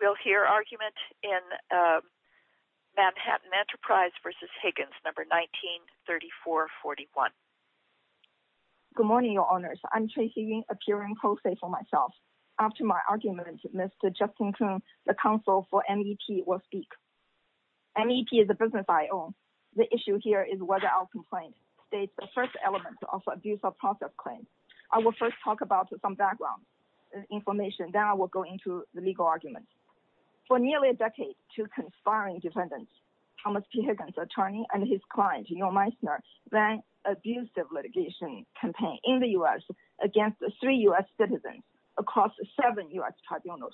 We'll hear argument in Manhattan Enterprise v. Higgins, No. 19-3441. Good morning, Your Honors. I'm Tracy Yung, appearing co-state for myself. After my argument, Mr. Justin Kuhn, the counsel for MEP, will speak. MEP is a business I own. The issue here is whether I'll complain. State the first element of abuse of profit claim. I will first talk about some background information, then I will go into the legal argument. For nearly a decade, two conspiring defendants, Thomas P. Higgins, attorney, and his client, Neil Meissner, ran abusive litigation campaign in the U.S. against three U.S. citizens across seven U.S. tribunals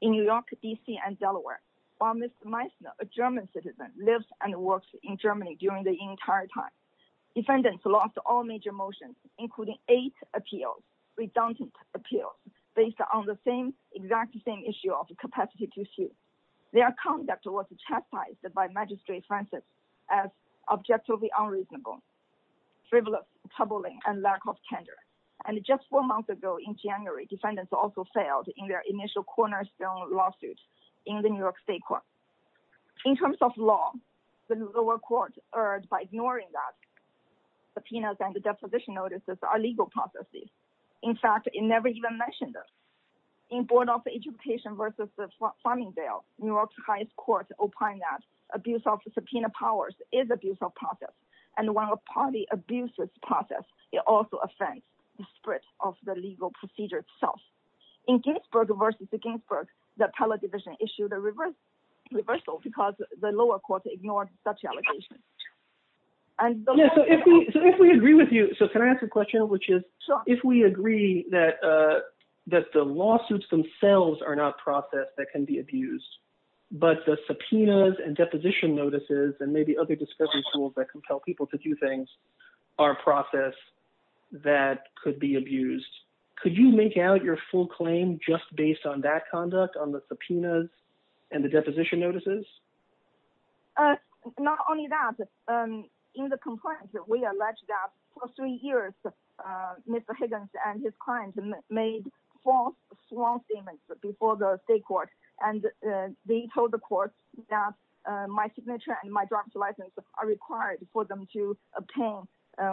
in New York, D.C., and Delaware. While Mr. Meissner, a German citizen, lives and works in Germany during the entire time, defendants lost all major motions, including eight appeals, redundant appeals, based on the exact same issue of capacity to sue. Their conduct was chastised by Magistrate Francis as objectively unreasonable, frivolous, troubling, and lack of tender. And just four months ago in January, defendants also failed in their initial cornerstone lawsuit in the New York State court. In terms of law, the lower court erred by ignoring that subpoenas and the deposition notices are legal processes. In fact, it never even mentioned them. In Board of Education v. Farmingdale, New York's highest court opined that abuse of subpoena powers is abuse of profit, and while a party abuses profit, it also offends the spirit of the legal procedure itself. In Ginsburg v. Ginsburg, the appellate division issued a reversal because the lower court ignored such allegations. So if we agree with you, so can I ask a question, which is, if we agree that the lawsuits themselves are not process that can be abused, but the subpoenas and deposition notices and maybe other discussion tools that compel people to do things are process that could be abused, could you make out your full claim just based on that conduct, on the subpoenas and the deposition notices? Not only that, in the complaint, we allege that for three years, Mr. Higgins and his clients made false statements before the state court, and they told the court that my signature and my driver's license are required for them to obtain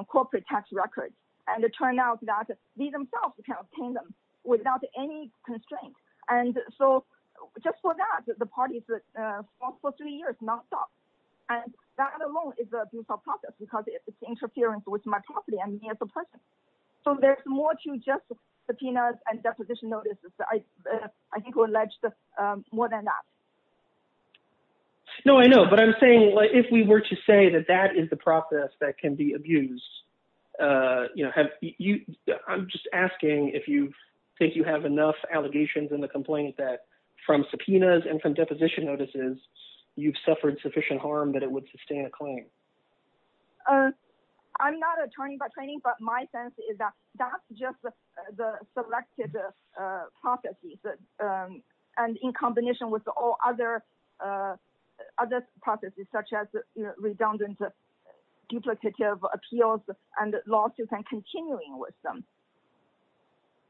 corporate tax records. And it turned out that they themselves can obtain them without any constraint. And so just for that, the parties for three years, nonstop. And that alone is abuse of profit, because it's interference with my property and me as a person. So there's more to just the subpoenas and deposition notices, I think, were alleged more than that. No, I know, but I'm saying if we were to say that that is the process that can be abused. You know, have you. I'm just asking if you think you have enough allegations in the complaint that from subpoenas and from deposition notices, you've suffered sufficient harm that it would sustain a claim. I'm not attorney by training, but my sense is that that's just the selected processes. And in combination with all other other processes such as redundant duplicative appeals and lawsuits and continuing with them.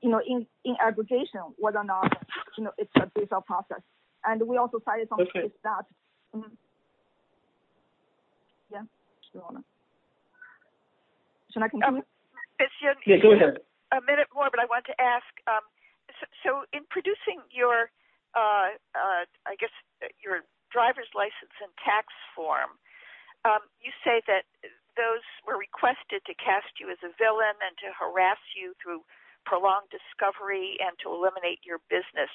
You know, in aggregation, whether or not it's a process. And we also cited that. Yeah. So I can go ahead a minute more, but I want to ask. So in producing your, I guess, your driver's license and tax form, you say that those were requested to cast you as a villain and to harass you through prolonged discovery and to eliminate your business.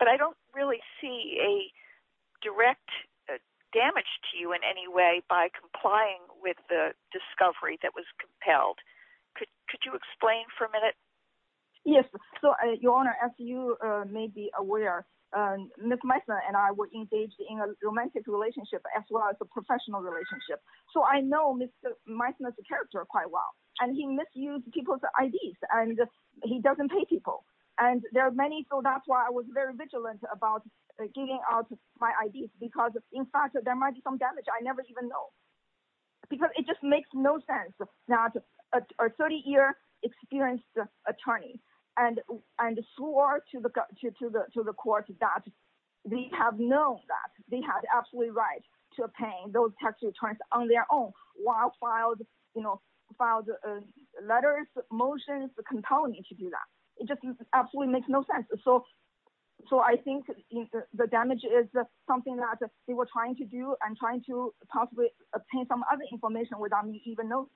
But I don't really see a direct damage to you in any way by complying with the discovery that was compelled. Could you explain for a minute? Yes. So, your Honor, as you may be aware, Miss Meisner and I were engaged in a romantic relationship as well as a professional relationship. So I know Miss Meisner's character quite well, and he misused people's IDs and he doesn't pay people. And there are many, so that's why I was very vigilant about giving out my IDs because in fact there might be some damage I never even know. Because it just makes no sense that a 30-year experienced attorney and swore to the court that they have known that they had absolutely right to pay those tax returns on their own while filed letters, motions, compelling to do that. It just absolutely makes no sense. So I think the damage is something that they were trying to do and trying to possibly obtain some other information without me even knowing.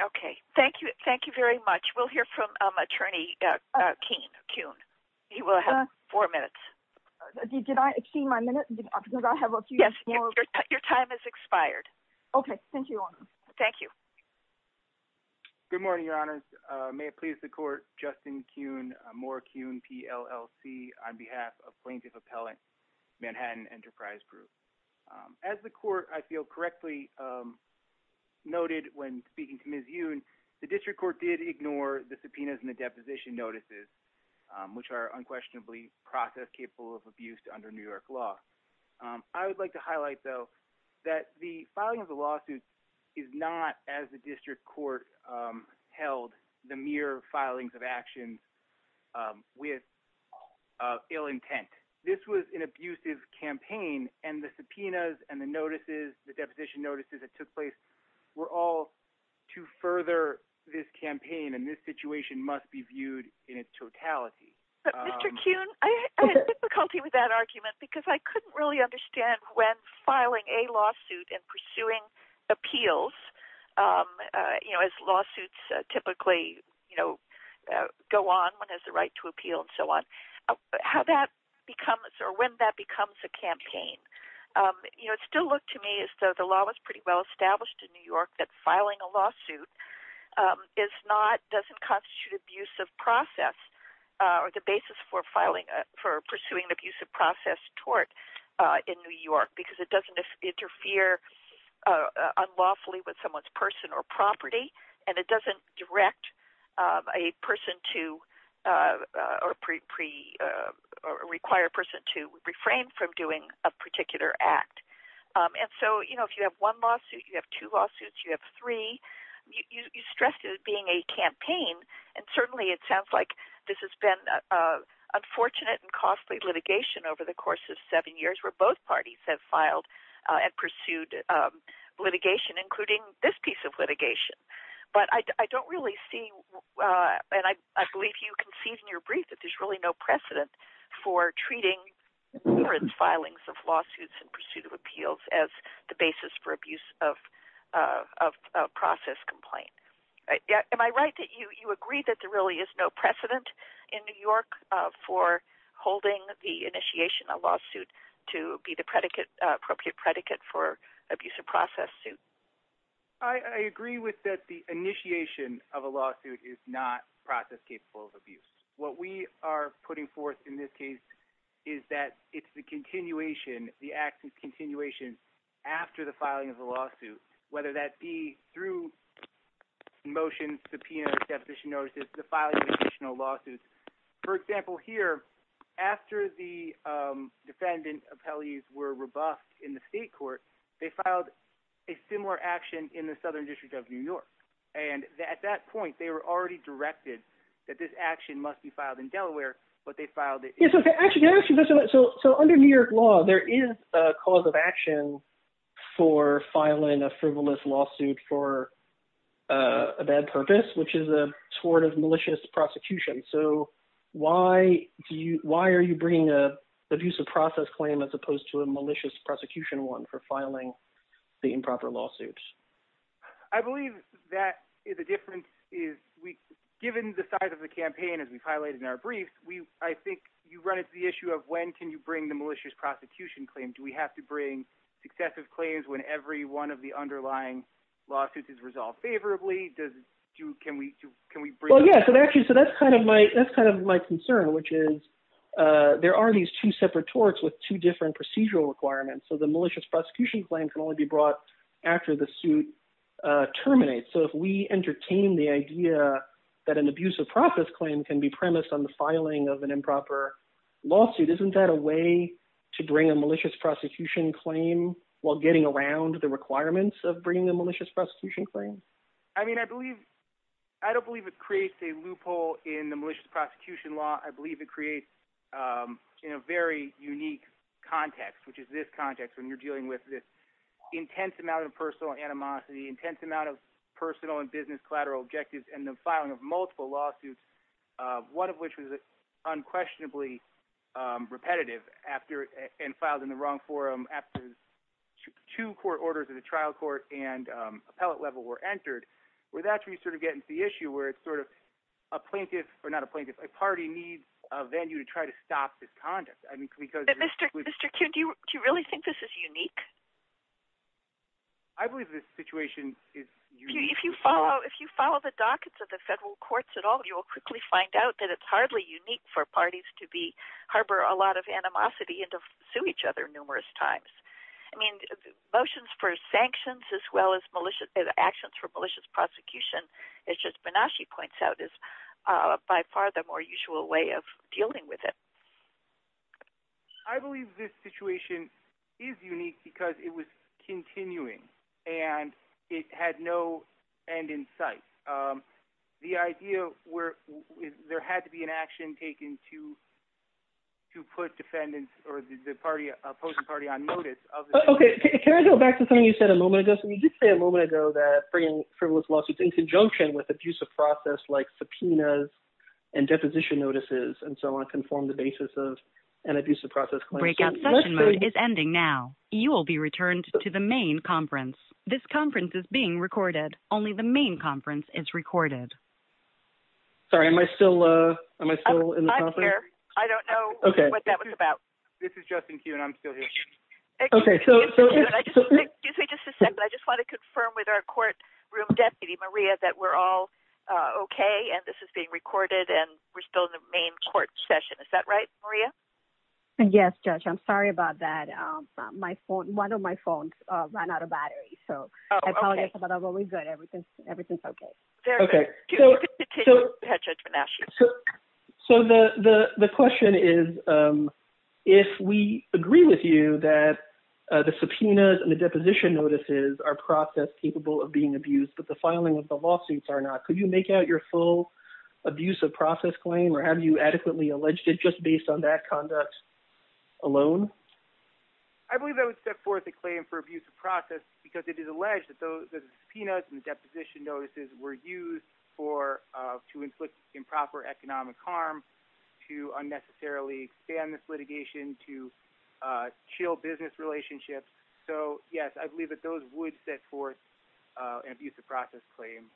Okay. Thank you. Thank you very much. We'll hear from Attorney Kuhn. He will have four minutes. Did I exceed my minute? Because I have a few more... Yes. Your time has expired. Okay. Thank you, Your Honor. Thank you. Good morning, Your Honors. May it please the court, Justin Kuhn, Moore Kuhn, PLLC, on behalf of Plaintiff Appellant Manhattan Enterprise Group. As the court, I feel, correctly noted when speaking to Ms. Yoon, the district court did ignore the subpoenas and the deposition notices, which are unquestionably process-capable of abuse under New York law. I would like to highlight, though, that the filing of the lawsuit is not, as the district court held, the mere filings of actions with ill intent. This was an abusive campaign, and the subpoenas and the notices, the deposition notices that took place, were all to further this campaign, and this situation must be viewed in its totality. Mr. Kuhn, I had difficulty with that argument because I couldn't really understand when filing a lawsuit and pursuing appeals, as lawsuits typically go on, one has the right to appeal and so on, how that becomes, or when that becomes a campaign. You know, it still looked to me as though the law was pretty well established in New York that filing a lawsuit is not, doesn't constitute abusive process, or the basis for pursuing an abusive process tort in New York, because it doesn't interfere unlawfully with someone's person or property, and it doesn't direct a person to, or require a person to refrain from doing a particular act. And so, you know, if you have one lawsuit, you have two lawsuits, you have three, you stress it as being a campaign, and certainly it sounds like this has been unfortunate and costly litigation over the course of seven years where both parties have filed and pursued litigation, including this piece of litigation. But I don't really see, and I believe you conceded in your brief that there's really no precedent for treating hearings, filings of lawsuits, and pursuit of appeals as the basis for abuse of process complaint. Am I right that you agree that there really is no precedent in New York for holding the initiation of a lawsuit to be the predicate, appropriate predicate for abuse of process suit? I agree with that the initiation of a lawsuit is not process capable of abuse. What we are putting forth in this case is that it's the continuation, the act of continuation after the filing of the lawsuit, whether that be through motions, subpoenas, deposition notices, the filing of additional lawsuits. For example here, after the defendant appellees were rebuffed in the state court, they filed a similar action in the Southern District of New York. And at that point, they were already directed that this action must be filed in Delaware, but they filed it in New York. So under New York law, there is a cause of action for filing a frivolous lawsuit for a bad purpose, which is a sort of malicious prosecution. So why are you bringing an abuse of process claim as opposed to a malicious prosecution one for filing the improper lawsuits? I believe that the difference is given the size of the campaign as we've highlighted in our briefs, I think you run into the issue of when can you bring the malicious prosecution claim. Do we have to bring successive claims when every one of the underlying lawsuits is resolved favorably? That's kind of my concern, which is there are these two separate torts with two different procedural requirements. So the malicious prosecution claim can only be brought after the suit terminates. So if we entertain the idea that an abuse of process claim can be premised on the filing of an improper lawsuit, isn't that a way to bring a malicious prosecution claim while getting around the requirements of bringing a malicious prosecution claim? I don't believe it creates a loophole in the malicious prosecution law. I believe it creates, in a very unique context, which is this context when you're dealing with this intense amount of personal animosity, intense amount of personal and business collateral objectives, and the filing of multiple lawsuits, one of which was unquestionably repetitive and filed in the wrong forum after two court orders of the trial court and appellate level were entered, where that's where you sort of get into the issue where it's sort of a plaintiff, or not a plaintiff, a party needs a venue to try to stop this conduct. Mr. Kuhn, do you really think this is unique? I believe this situation is unique. If you follow the dockets of the federal courts at all, you'll quickly find out that it's hardly unique for parties to harbor a lot of animosity and to sue each other numerous times. I mean, motions for sanctions, as well as actions for malicious prosecution, as Justice Benashi points out, is by far the more usual way of dealing with it. I believe this situation is unique because it was continuing, and it had no end in sight. The idea where there had to be an action taken to put defendants or the party, opposing party, on notice. Can I go back to something you said a moment ago? You did say a moment ago that bringing frivolous lawsuits in conjunction with abusive process like subpoenas and deposition notices and so on can form the basis of an abusive process claim. Breakout session mode is ending now. You will be returned to the main conference. This conference is being recorded. Only the main conference is recorded. Sorry, am I still in the conference? I'm here. I don't know what that was about. This is Justin Kuhn. I'm still here. Excuse me just a second. I just want to confirm with our courtroom deputy, Maria, that we're all okay, and this is being recorded, and we're still in the main court session. Is that right, Maria? Yes, Judge. I'm sorry about that. One of my phones ran out of battery, so I apologize, but I'm always good. Everything's okay. Very good. So the question is, if we agree with you that the subpoenas and the deposition notices are process capable of being abused, but the filing of the lawsuits are not, could you make out your full abusive process claim, or have you adequately alleged it just based on that conduct alone? I believe I would set forth a claim for abusive process because it is alleged that the subpoenas and the deposition notices were used to inflict improper economic harm, to unnecessarily expand this litigation, to chill business relationships. So yes, I believe that those would set forth an abusive process claim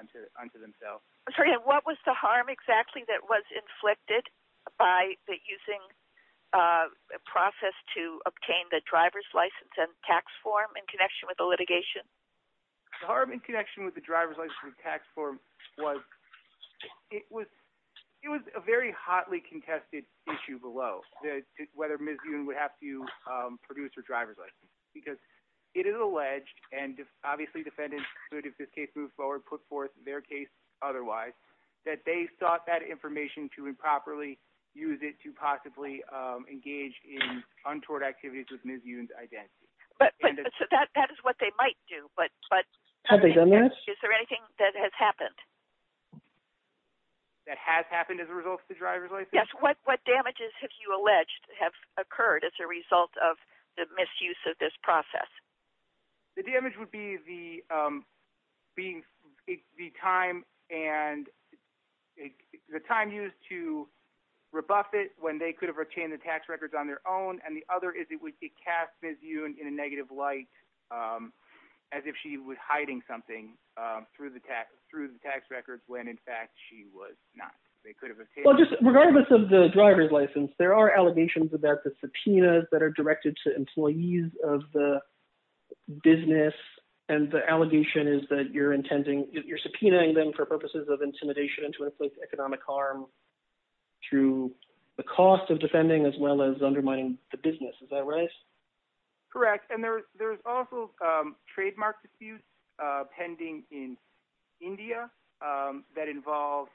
unto themselves. What was the harm exactly that was inflicted by using a process to obtain the driver's license and tax form in connection with the litigation? The harm in connection with the driver's license and tax form was, it was a very hotly contested issue below, whether Ms. Yoon would have to produce her driver's license, because it is alleged, and obviously defendants, if this case moves forward, put forth their case otherwise, that they sought that information to improperly use it to possibly engage in untoward activities with Ms. Yoon's identity. But that is what they might do, but is there anything that has happened? That has happened as a result of the driver's license? Yes, what damages have you alleged have occurred as a result of the misuse of this process? The damage would be the time used to rebuff it when they could have retained the tax records on their own, and the other is it would cast Ms. Yoon in a negative light, as if she was hiding something through the tax records when in fact she was not. Regardless of the driver's license, there are allegations about the subpoenas that are directed to employees of the business, and the allegation is that you're intending, you're subpoenaing them for purposes of intimidation and to inflict economic harm through the cost of defending as well as undermining the business, is that right? Correct, and there's also trademark disputes pending in India that involve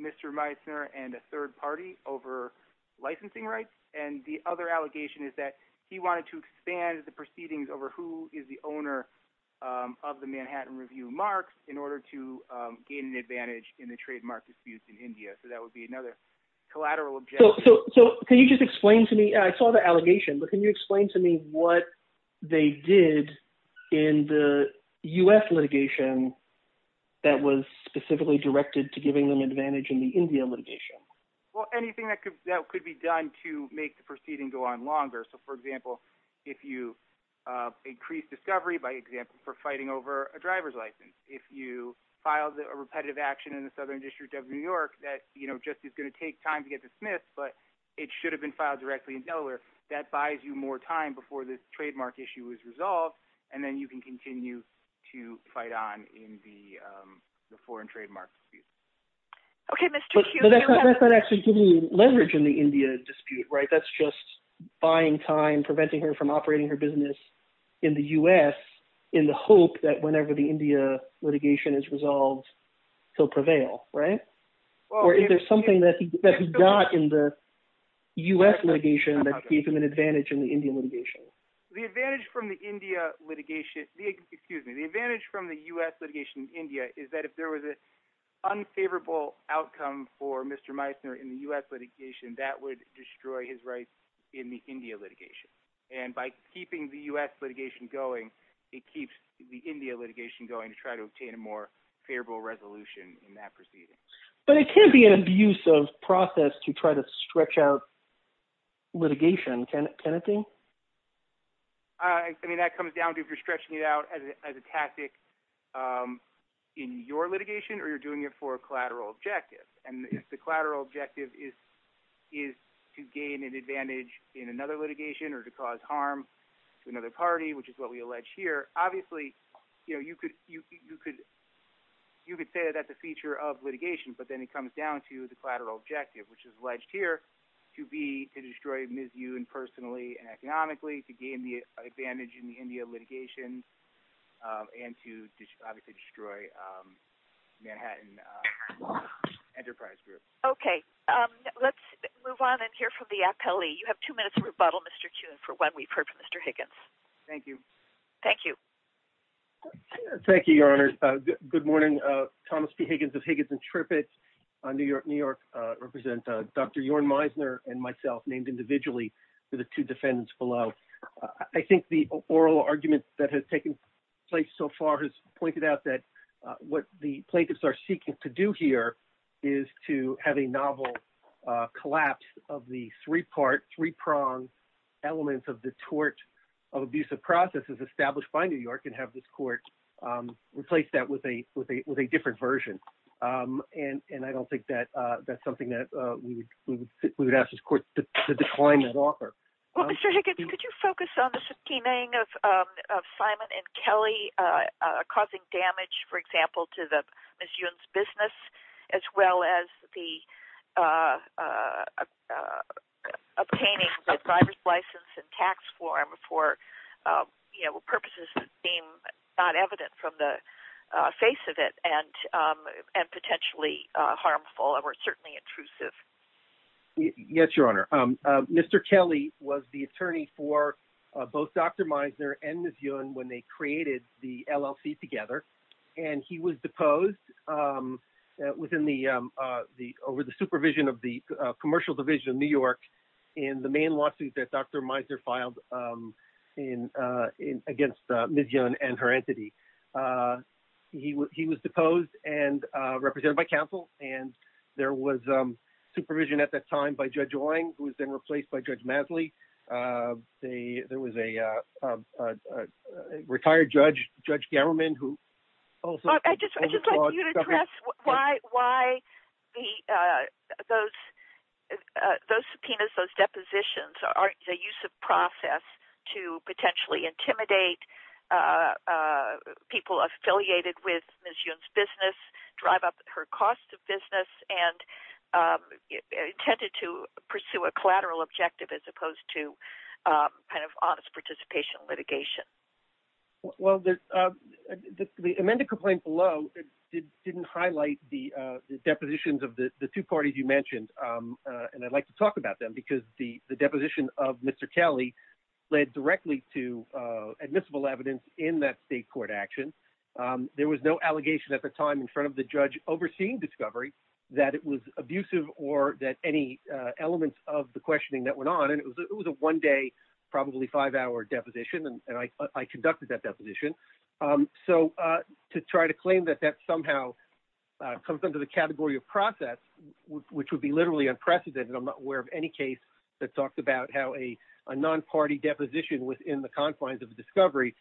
Mr. Meissner and a third party over licensing rights, and the other allegation is that he wanted to expand the proceedings over who is the owner of the Manhattan Review Marks in order to gain an advantage in the trademark disputes in India, so that would be another collateral objection. So can you just explain to me, I saw the allegation, but can you explain to me what they did in the U.S. litigation that was specifically directed to giving them advantage in the India litigation? Well, anything that could be done to make the proceeding go on longer, so for example, if you increase discovery, for example, for fighting over a driver's license, if you filed a repetitive action in the Southern District of New York that just is going to take time to get dismissed, but it should have been filed directly in Delaware, that buys you more time before this trademark issue is resolved, and then you can continue to fight on in the foreign trademark dispute. But that's not actually giving you leverage in the India dispute, right? That's just buying time, preventing her from operating her business in the U.S. in the hope that whenever the India litigation is resolved, he'll prevail, right? Or is there something that he got in the U.S. litigation that gave him an advantage in the India litigation? The advantage from the India litigation – excuse me, the advantage from the U.S. litigation in India is that if there was an unfavorable outcome for Mr. Meissner in the U.S. litigation, that would destroy his rights in the India litigation. And by keeping the U.S. litigation going, it keeps the India litigation going to try to obtain a more favorable resolution in that proceeding. But it can be an abusive process to try to stretch out litigation, can it be? I mean, that comes down to if you're stretching it out as a tactic in your litigation or you're doing it for a collateral objective. And if the collateral objective is to gain an advantage in another litigation or to cause harm to another party, which is what we allege here, obviously you could say that's a feature of litigation. But then it comes down to the collateral objective, which is alleged here to be to destroy Ms. Yoon personally and economically, to gain the advantage in the India litigation, and to obviously destroy Manhattan Enterprise Group. Okay. Let's move on and hear from the appellee. You have two minutes to rebuttal, Mr. Kuhn, for what we've heard from Mr. Higgins. Thank you. Thank you. Thank you, Your Honors. Good morning. Thomas P. Higgins of Higgins and Trippett, New York. I represent Dr. Jorn Meisner and myself, named individually for the two defendants below. I think the oral argument that has taken place so far has pointed out that what the plaintiffs are seeking to do here is to have a novel collapse of the three-pronged elements of the tort of abusive processes established by New York and have this court replace that with a different version. And I don't think that that's something that we would ask this court to decline and offer. Well, Mr. Higgins, could you focus on the subpoenaing of Simon and Kelly causing damage, for example, to Ms. Yoon's business, as well as obtaining the driver's license and tax form for purposes that seem not evident from the face of it and potentially harmful or certainly intrusive? Yes, Your Honor. Mr. Kelly was the attorney for both Dr. Meisner and Ms. Yoon when they created the LLC together. And he was deposed over the supervision of the Commercial Division of New York in the main lawsuit that Dr. Meisner filed against Ms. Yoon and her entity. He was deposed and represented by counsel, and there was supervision at that time by Judge Owing, who was then replaced by Judge Masley. There was a retired judge, Judge Gamerman, who also— I just want you to address why those subpoenas, those depositions, are a use of process to potentially intimidate people affiliated with Ms. Yoon's business, drive up her cost of business, and are intended to pursue a collateral objective as opposed to kind of honest participation litigation. Well, the amended complaint below didn't highlight the depositions of the two parties you mentioned. And I'd like to talk about them because the deposition of Mr. Kelly led directly to admissible evidence in that state court action. There was no allegation at the time in front of the judge overseeing discovery that it was abusive or that any elements of the questioning that went on— and it was a one-day, probably five-hour deposition, and I conducted that deposition. So to try to claim that that somehow comes under the category of process, which would be literally unprecedented— I'm not aware of any case that talked about how a non-party deposition within the confines of the discovery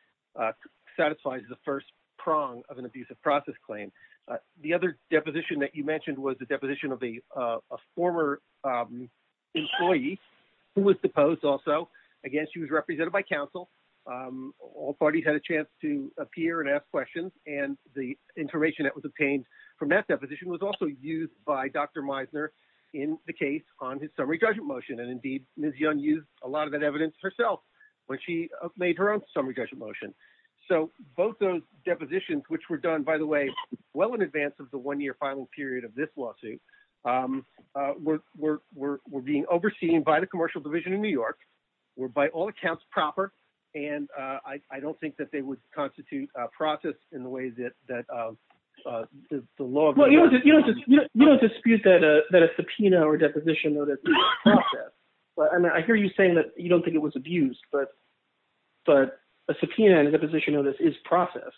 satisfies the first prong of an abusive process claim. The other deposition that you mentioned was the deposition of a former employee who was deposed also. Again, she was represented by counsel. All parties had a chance to appear and ask questions, and the information that was obtained from that deposition was also used by Dr. Meisner in the case on his summary judgment motion. And indeed, Ms. Young used a lot of that evidence herself when she made her own summary judgment motion. So both those depositions, which were done, by the way, well in advance of the one-year filing period of this lawsuit, were being overseen by the Commercial Division of New York, were by all accounts proper, and I don't think that they would constitute process in the way that the law— Well, you don't dispute that a subpoena or a deposition notice is process. I mean, I hear you saying that you don't think it was abused, but a subpoena and a deposition notice is process,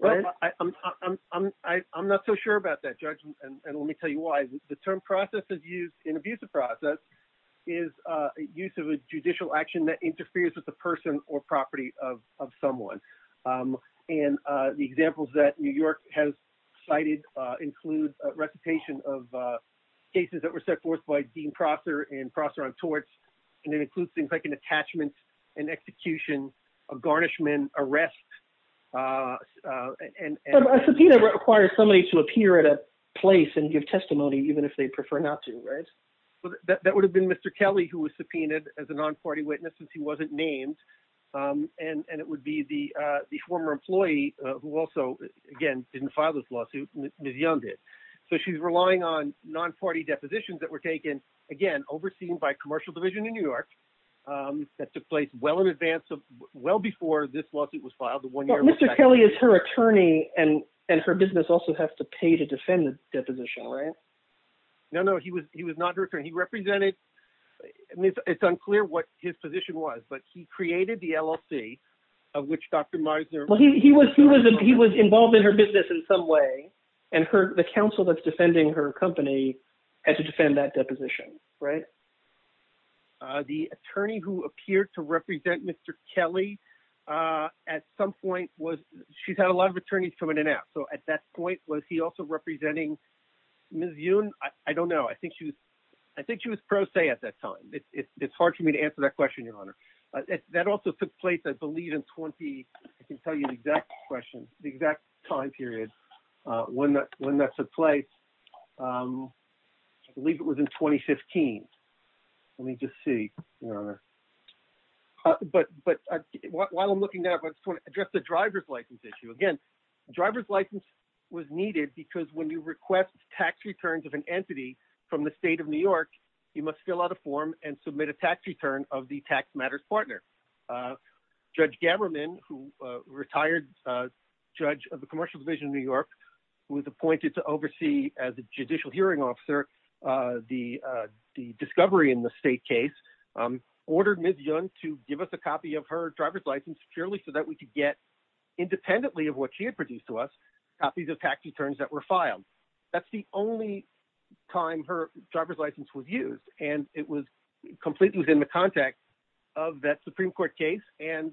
right? I'm not so sure about that, Judge, and let me tell you why. The term process is used in abuse of process is use of a judicial action that interferes with the person or property of someone. And the examples that New York has cited include recitation of cases that were set forth by Dean Prosser and Prosser on torts, and it includes things like an attachment, an execution, a garnishment, arrest, and— A subpoena requires somebody to appear at a place and give testimony even if they prefer not to, right? Well, that would have been Mr. Kelly who was subpoenaed as a non-party witness since he wasn't named, and it would be the former employee who also, again, didn't file this lawsuit. Ms. Young did. So she's relying on non-party depositions that were taken, again, overseen by a commercial division in New York that took place well in advance of—well before this lawsuit was filed, the one year— But Mr. Kelly is her attorney, and her business also has to pay to defend the deposition, right? No, no, he was not her attorney. He represented—it's unclear what his position was, but he created the LLC of which Dr. Meisner— Well, he was involved in her business in some way, and the counsel that's defending her company had to defend that deposition, right? The attorney who appeared to represent Mr. Kelly at some point was—she's had a lot of attorneys come in and out. So at that point, was he also representing Ms. Young? I don't know. I think she was pro se at that time. It's hard for me to answer that question, Your Honor. That also took place, I believe, in 20—I can tell you the exact question, the exact time period when that took place. I believe it was in 2015. Let me just see, Your Honor. But while I'm looking at it, I just want to address the driver's license issue. Again, driver's license was needed because when you request tax returns of an entity from the state of New York, you must fill out a form and submit a tax return of the tax matters partner. Judge Gammerman, who retired judge of the Commercial Division of New York, who was appointed to oversee as a judicial hearing officer the discovery in the state case, ordered Ms. Young to give us a copy of her driver's license securely so that we could get, independently of what she had produced to us, copies of tax returns that were filed. That's the only time her driver's license was used, and it was completely within the context of that Supreme Court case, and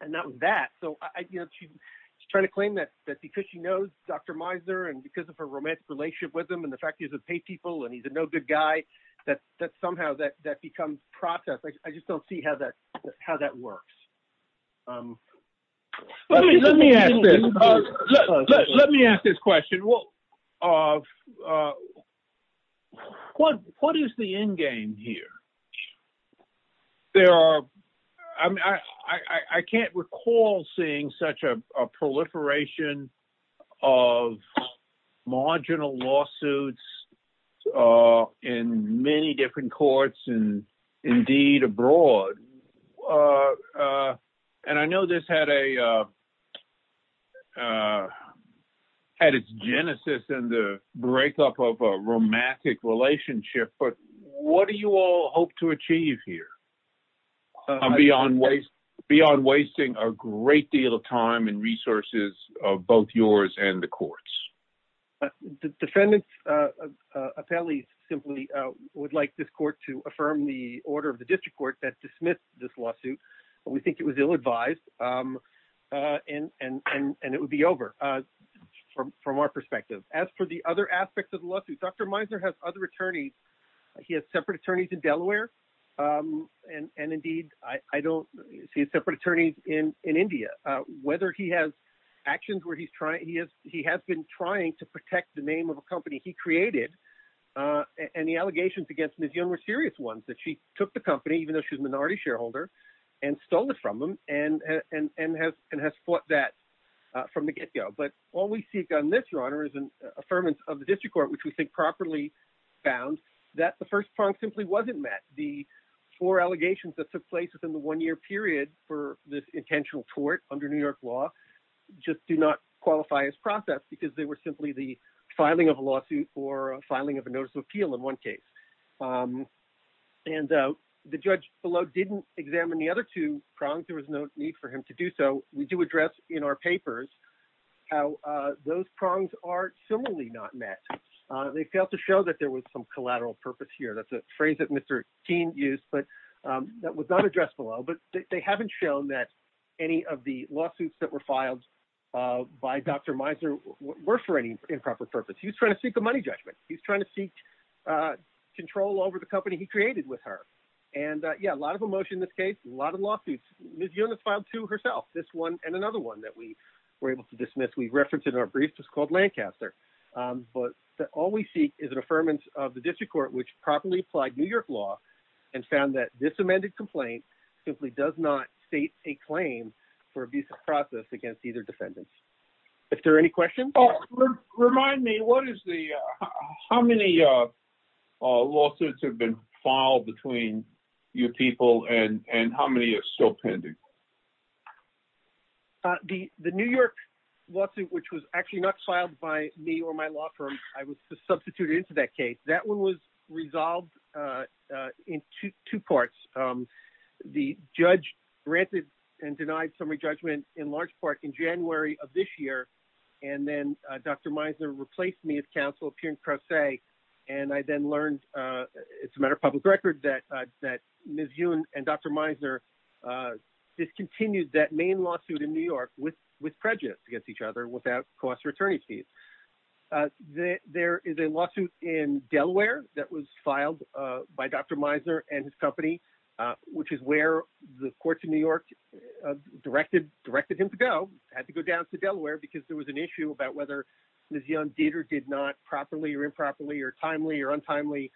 that was that. So she's trying to claim that because she knows Dr. Mizer and because of her romantic relationship with him and the fact that he's a pay people and he's a no-good guy, that somehow that becomes protest. I just don't see how that works. Let me ask this question. What is the endgame here? I can't recall seeing such a proliferation of marginal lawsuits in many different courts and indeed abroad. I know this had its genesis in the breakup of a romantic relationship, but what do you all hope to achieve here beyond wasting a great deal of time and resources of both yours and the court's? The defendant's appellees simply would like this court to affirm the order of the district court that dismissed this lawsuit. We think it was ill-advised, and it would be over from our perspective. As for the other aspects of the lawsuit, Dr. Mizer has other attorneys. He has separate attorneys in Delaware, and indeed I don't see separate attorneys in India. He has been trying to protect the name of a company he created, and the allegations against Ms. Young were serious ones, that she took the company, even though she's a minority shareholder, and stole it from them and has fought that from the get-go. But all we seek on this, Your Honor, is an affirmance of the district court, which we think properly found, that the first prong simply wasn't met. The four allegations that took place within the one-year period for this intentional tort under New York law just do not qualify as process because they were simply the filing of a lawsuit or a filing of a notice of appeal in one case. And the judge below didn't examine the other two prongs. There was no need for him to do so. We do address in our papers how those prongs are similarly not met. They failed to show that there was some collateral purpose here. That's a phrase that Mr. Keene used, but that was not addressed below. But they haven't shown that any of the lawsuits that were filed by Dr. Mizer were for any improper purpose. He was trying to seek a money judgment. He was trying to seek control over the company he created with her. And yeah, a lot of emotion in this case, a lot of lawsuits. Ms. Yunus filed two herself, this one and another one that we were able to dismiss. We referenced in our brief. It was called Lancaster. But all we seek is an affirmance of the district court, which properly applied New York law and found that this amended complaint simply does not state a claim for abusive process against either defendants. Is there any questions? Remind me, what is the how many lawsuits have been filed between your people and how many are still pending? The New York lawsuit, which was actually not filed by me or my law firm. I was substituted into that case. That one was resolved in two parts. The judge granted and denied summary judgment in large part in January of this year. And then Dr. Meisner replaced me as counsel, appearing pro se. And I then learned it's a matter of public record that that Ms. Yunus and Dr. Meisner discontinued that main lawsuit in New York with with prejudice against each other without cost or attorney's fees. There is a lawsuit in Delaware that was filed by Dr. Meisner and his company, which is where the courts in New York directed, directed him to go. Had to go down to Delaware because there was an issue about whether Ms. Yunus did or did not properly or improperly or timely or untimely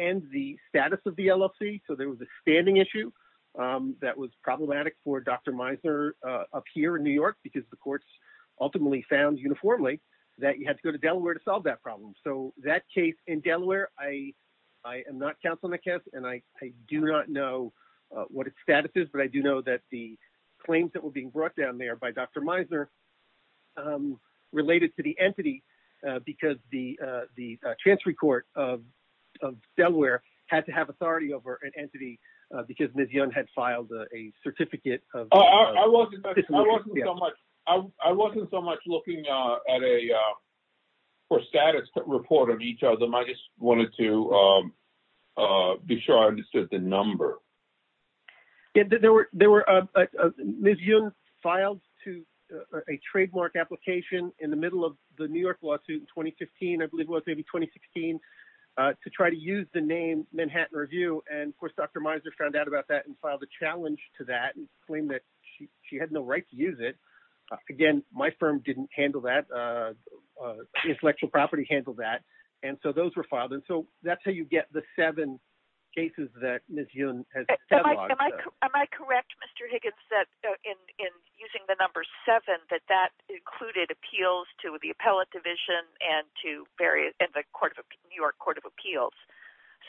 end the status of the LLC. So there was a standing issue that was problematic for Dr. Meisner up here in New York because the courts ultimately found uniformly that you had to go to Delaware to solve that problem. So that case in Delaware, I am not counsel in the case and I do not know what its status is, but I do know that the claims that were being brought down there by Dr. Meisner related to the entity because the the transferee court of Delaware had to have authority over an entity because Ms. Yunus had filed a certificate. I wasn't so much looking at a status report of each of them. I just wanted to be sure I understood the number. There were, there were, Ms. Yunus filed to a trademark application in the middle of the New York lawsuit in 2015, I believe it was maybe 2016, to try to use the name Manhattan Review. And of course, Dr. Meisner found out about that and filed a challenge to that and claimed that she had no right to use it. Again, my firm didn't handle that. The intellectual property handled that. And so those were filed. And so that's how you get the seven cases that Ms. Yunus has cataloged. Am I correct, Mr. Higgins, that in using the number seven, that that included appeals to the appellate division and to the New York Court of Appeals,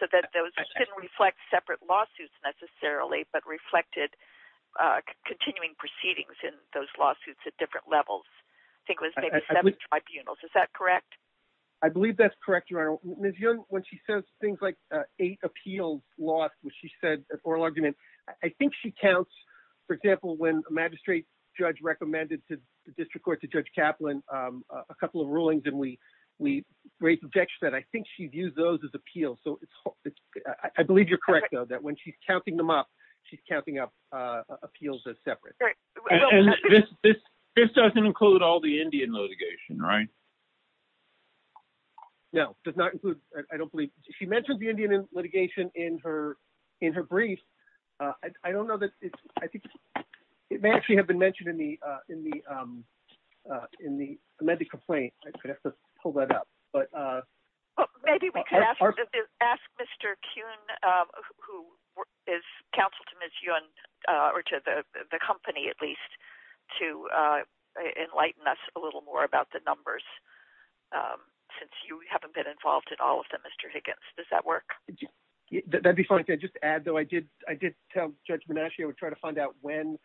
so that those didn't reflect separate lawsuits necessarily, but reflected continuing proceedings in those lawsuits at different levels? I think it was maybe seven tribunals. Is that correct? I believe that's correct, Your Honor. Ms. Yunus, when she says things like eight appeals lost, which she said at oral argument, I think she counts, for example, when a magistrate judge recommended to the district court to Judge Kaplan a couple of rulings and we raised objections, I think she used those as appeals. I believe you're correct, though, that when she's counting them up, she's counting up appeals as separate. This doesn't include all the Indian litigation, right? No, does not include. I don't believe she mentioned the Indian litigation in her in her brief. I don't know that I think it may actually have been mentioned in the in the in the medical plate. I could have to pull that up, but maybe we could ask Mr. Kuhn, who is counsel to Miss Yun or to the company, at least to enlighten us a little more about the numbers. Since you haven't been involved in all of them, Mr. Higgins, does that work? That'd be funny to just add, though. I did. I did tell Judge Menachie I would try to find out when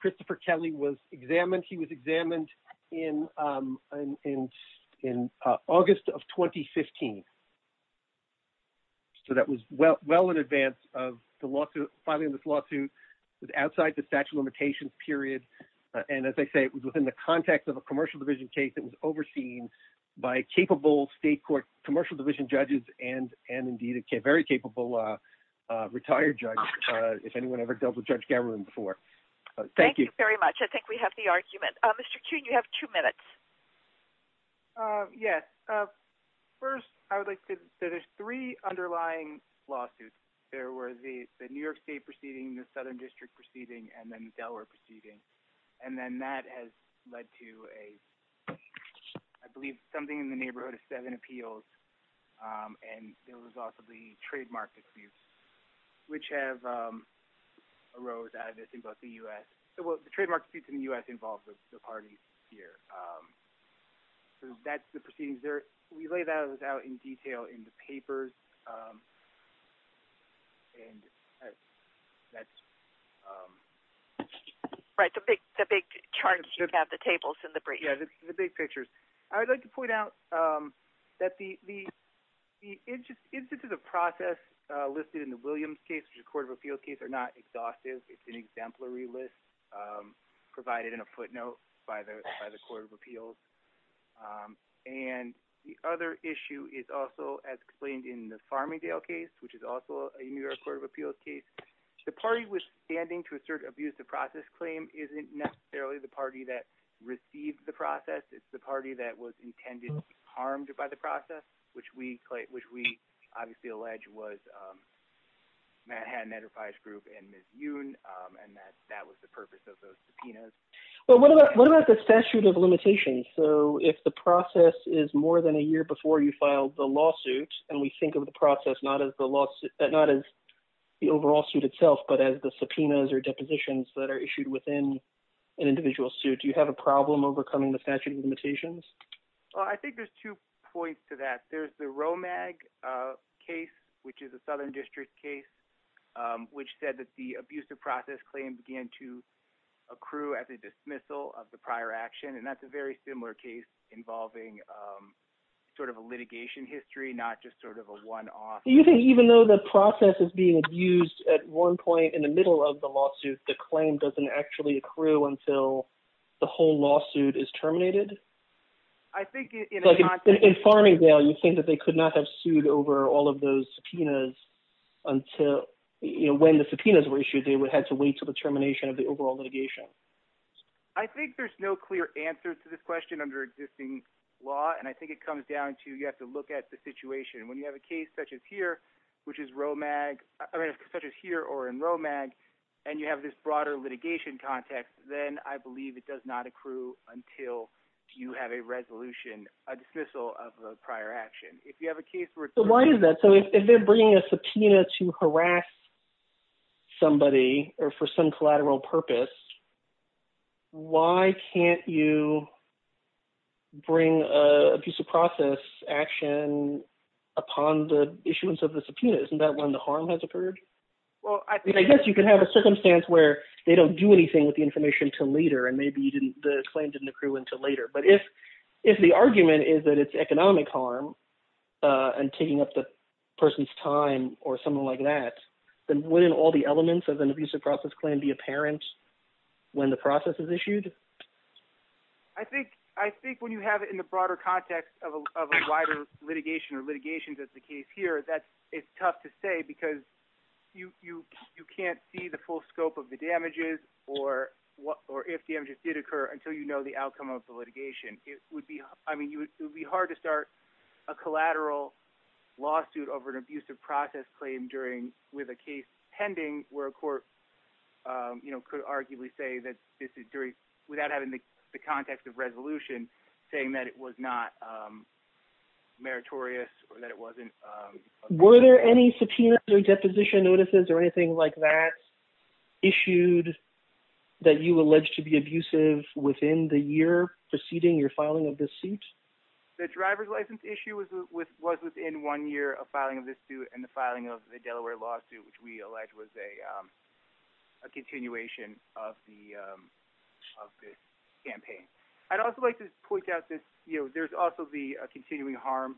Christopher Kelly was examined. He was examined in in in August of 2015. So that was well well in advance of the lawsuit. Finally, this lawsuit was outside the statute of limitations period. And as I say, it was within the context of a commercial division case that was overseen by capable state court commercial division judges and and indeed a very capable retired judge. If anyone ever dealt with Judge Cameron before. Thank you very much. I think we have the argument. Mr. Kuhn, you have two minutes. Yes. First, I would like to say there's three underlying lawsuits. There were the New York State proceeding, the Southern District proceeding, and then Delaware proceeding. And then that has led to a, I believe, something in the neighborhood of seven appeals. And there was also the trademark abuse, which have arose out of this in both the U.S. So the trademark defeats in the U.S. involved the party here. So that's the proceedings there. We lay that out in detail in the papers. And that's right. The big the big charts have the tables in the big pictures. I would like to point out that the the the interest into the process listed in the Williams case, which is a court of appeals case, are not exhaustive. It's an exemplary list provided in a footnote by the court of appeals. And the other issue is also, as explained in the Farmingdale case, which is also a New York court of appeals case. The party was standing to assert abuse of process claim isn't necessarily the party that received the process. It's the party that was intended to be harmed by the process, which we which we obviously allege was Manhattan Enterprise Group and Miss Yoon. And that that was the purpose of those subpoenas. Well, what about what about the statute of limitations? So if the process is more than a year before you filed the lawsuit and we think of the process, not as the lawsuit, not as the overall suit itself, but as the subpoenas or depositions that are issued within an individual suit. Do you have a problem overcoming the statute of limitations? I think there's two points to that. There's the Romag case, which is a southern district case which said that the abuse of process claim began to accrue as a dismissal of the prior action. And that's a very similar case involving sort of a litigation history, not just sort of a one off. Do you think even though the process is being abused at one point in the middle of the lawsuit, the claim doesn't actually accrue until the whole lawsuit is terminated? I think in Farmingdale, you think that they could not have sued over all of those subpoenas until when the subpoenas were issued, they would have to wait till the termination of the overall litigation. I think there's no clear answer to this question under existing law, and I think it comes down to you have to look at the situation. When you have a case such as here, which is Romag, such as here or in Romag, and you have this broader litigation context, then I believe it does not accrue until you have a resolution, a dismissal of the prior action. So why is that? So if they're bringing a subpoena to harass somebody or for some collateral purpose, why can't you bring abuse of process action upon the issuance of the subpoena? Isn't that when the harm has occurred? I guess you can have a circumstance where they don't do anything with the information until later, and maybe the claim didn't accrue until later. But if the argument is that it's economic harm and taking up the person's time or something like that, then wouldn't all the elements of an abuse of process claim be apparent when the process is issued? I think when you have it in the broader context of a wider litigation or litigations as the case here, it's tough to say because you can't see the full scope of the damages or if damages did occur until you know the outcome of the litigation. It would be hard to start a collateral lawsuit over an abuse of process claim with a case pending where a court could arguably say that this is without having the context of resolution saying that it was not meritorious or that it wasn't. Were there any subpoenas or deposition notices or anything like that issued that you alleged to be abusive within the year preceding your filing of this suit? The driver's license issue was within one year of filing of this suit and the filing of the Delaware lawsuit which we alleged was a continuation of this campaign. I'd also like to point out that there's also the continuing harm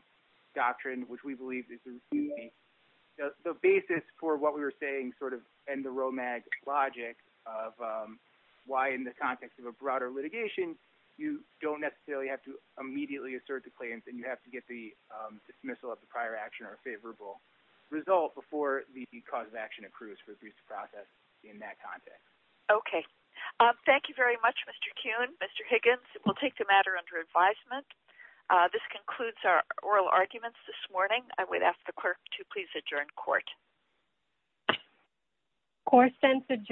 doctrine which we believe is the basis for what we were saying and the ROMAG logic of why in the context of a broader litigation you don't necessarily have to immediately assert the claims and you have to get the dismissal of the prior action or favorable result before the cause of action accrues for abuse of process in that context. Okay, thank you very much Mr. Kuhn. Mr. Higgins, we'll take the matter under advisement. This concludes our oral arguments this morning. I would ask the clerk to please adjourn court. Court is adjourned.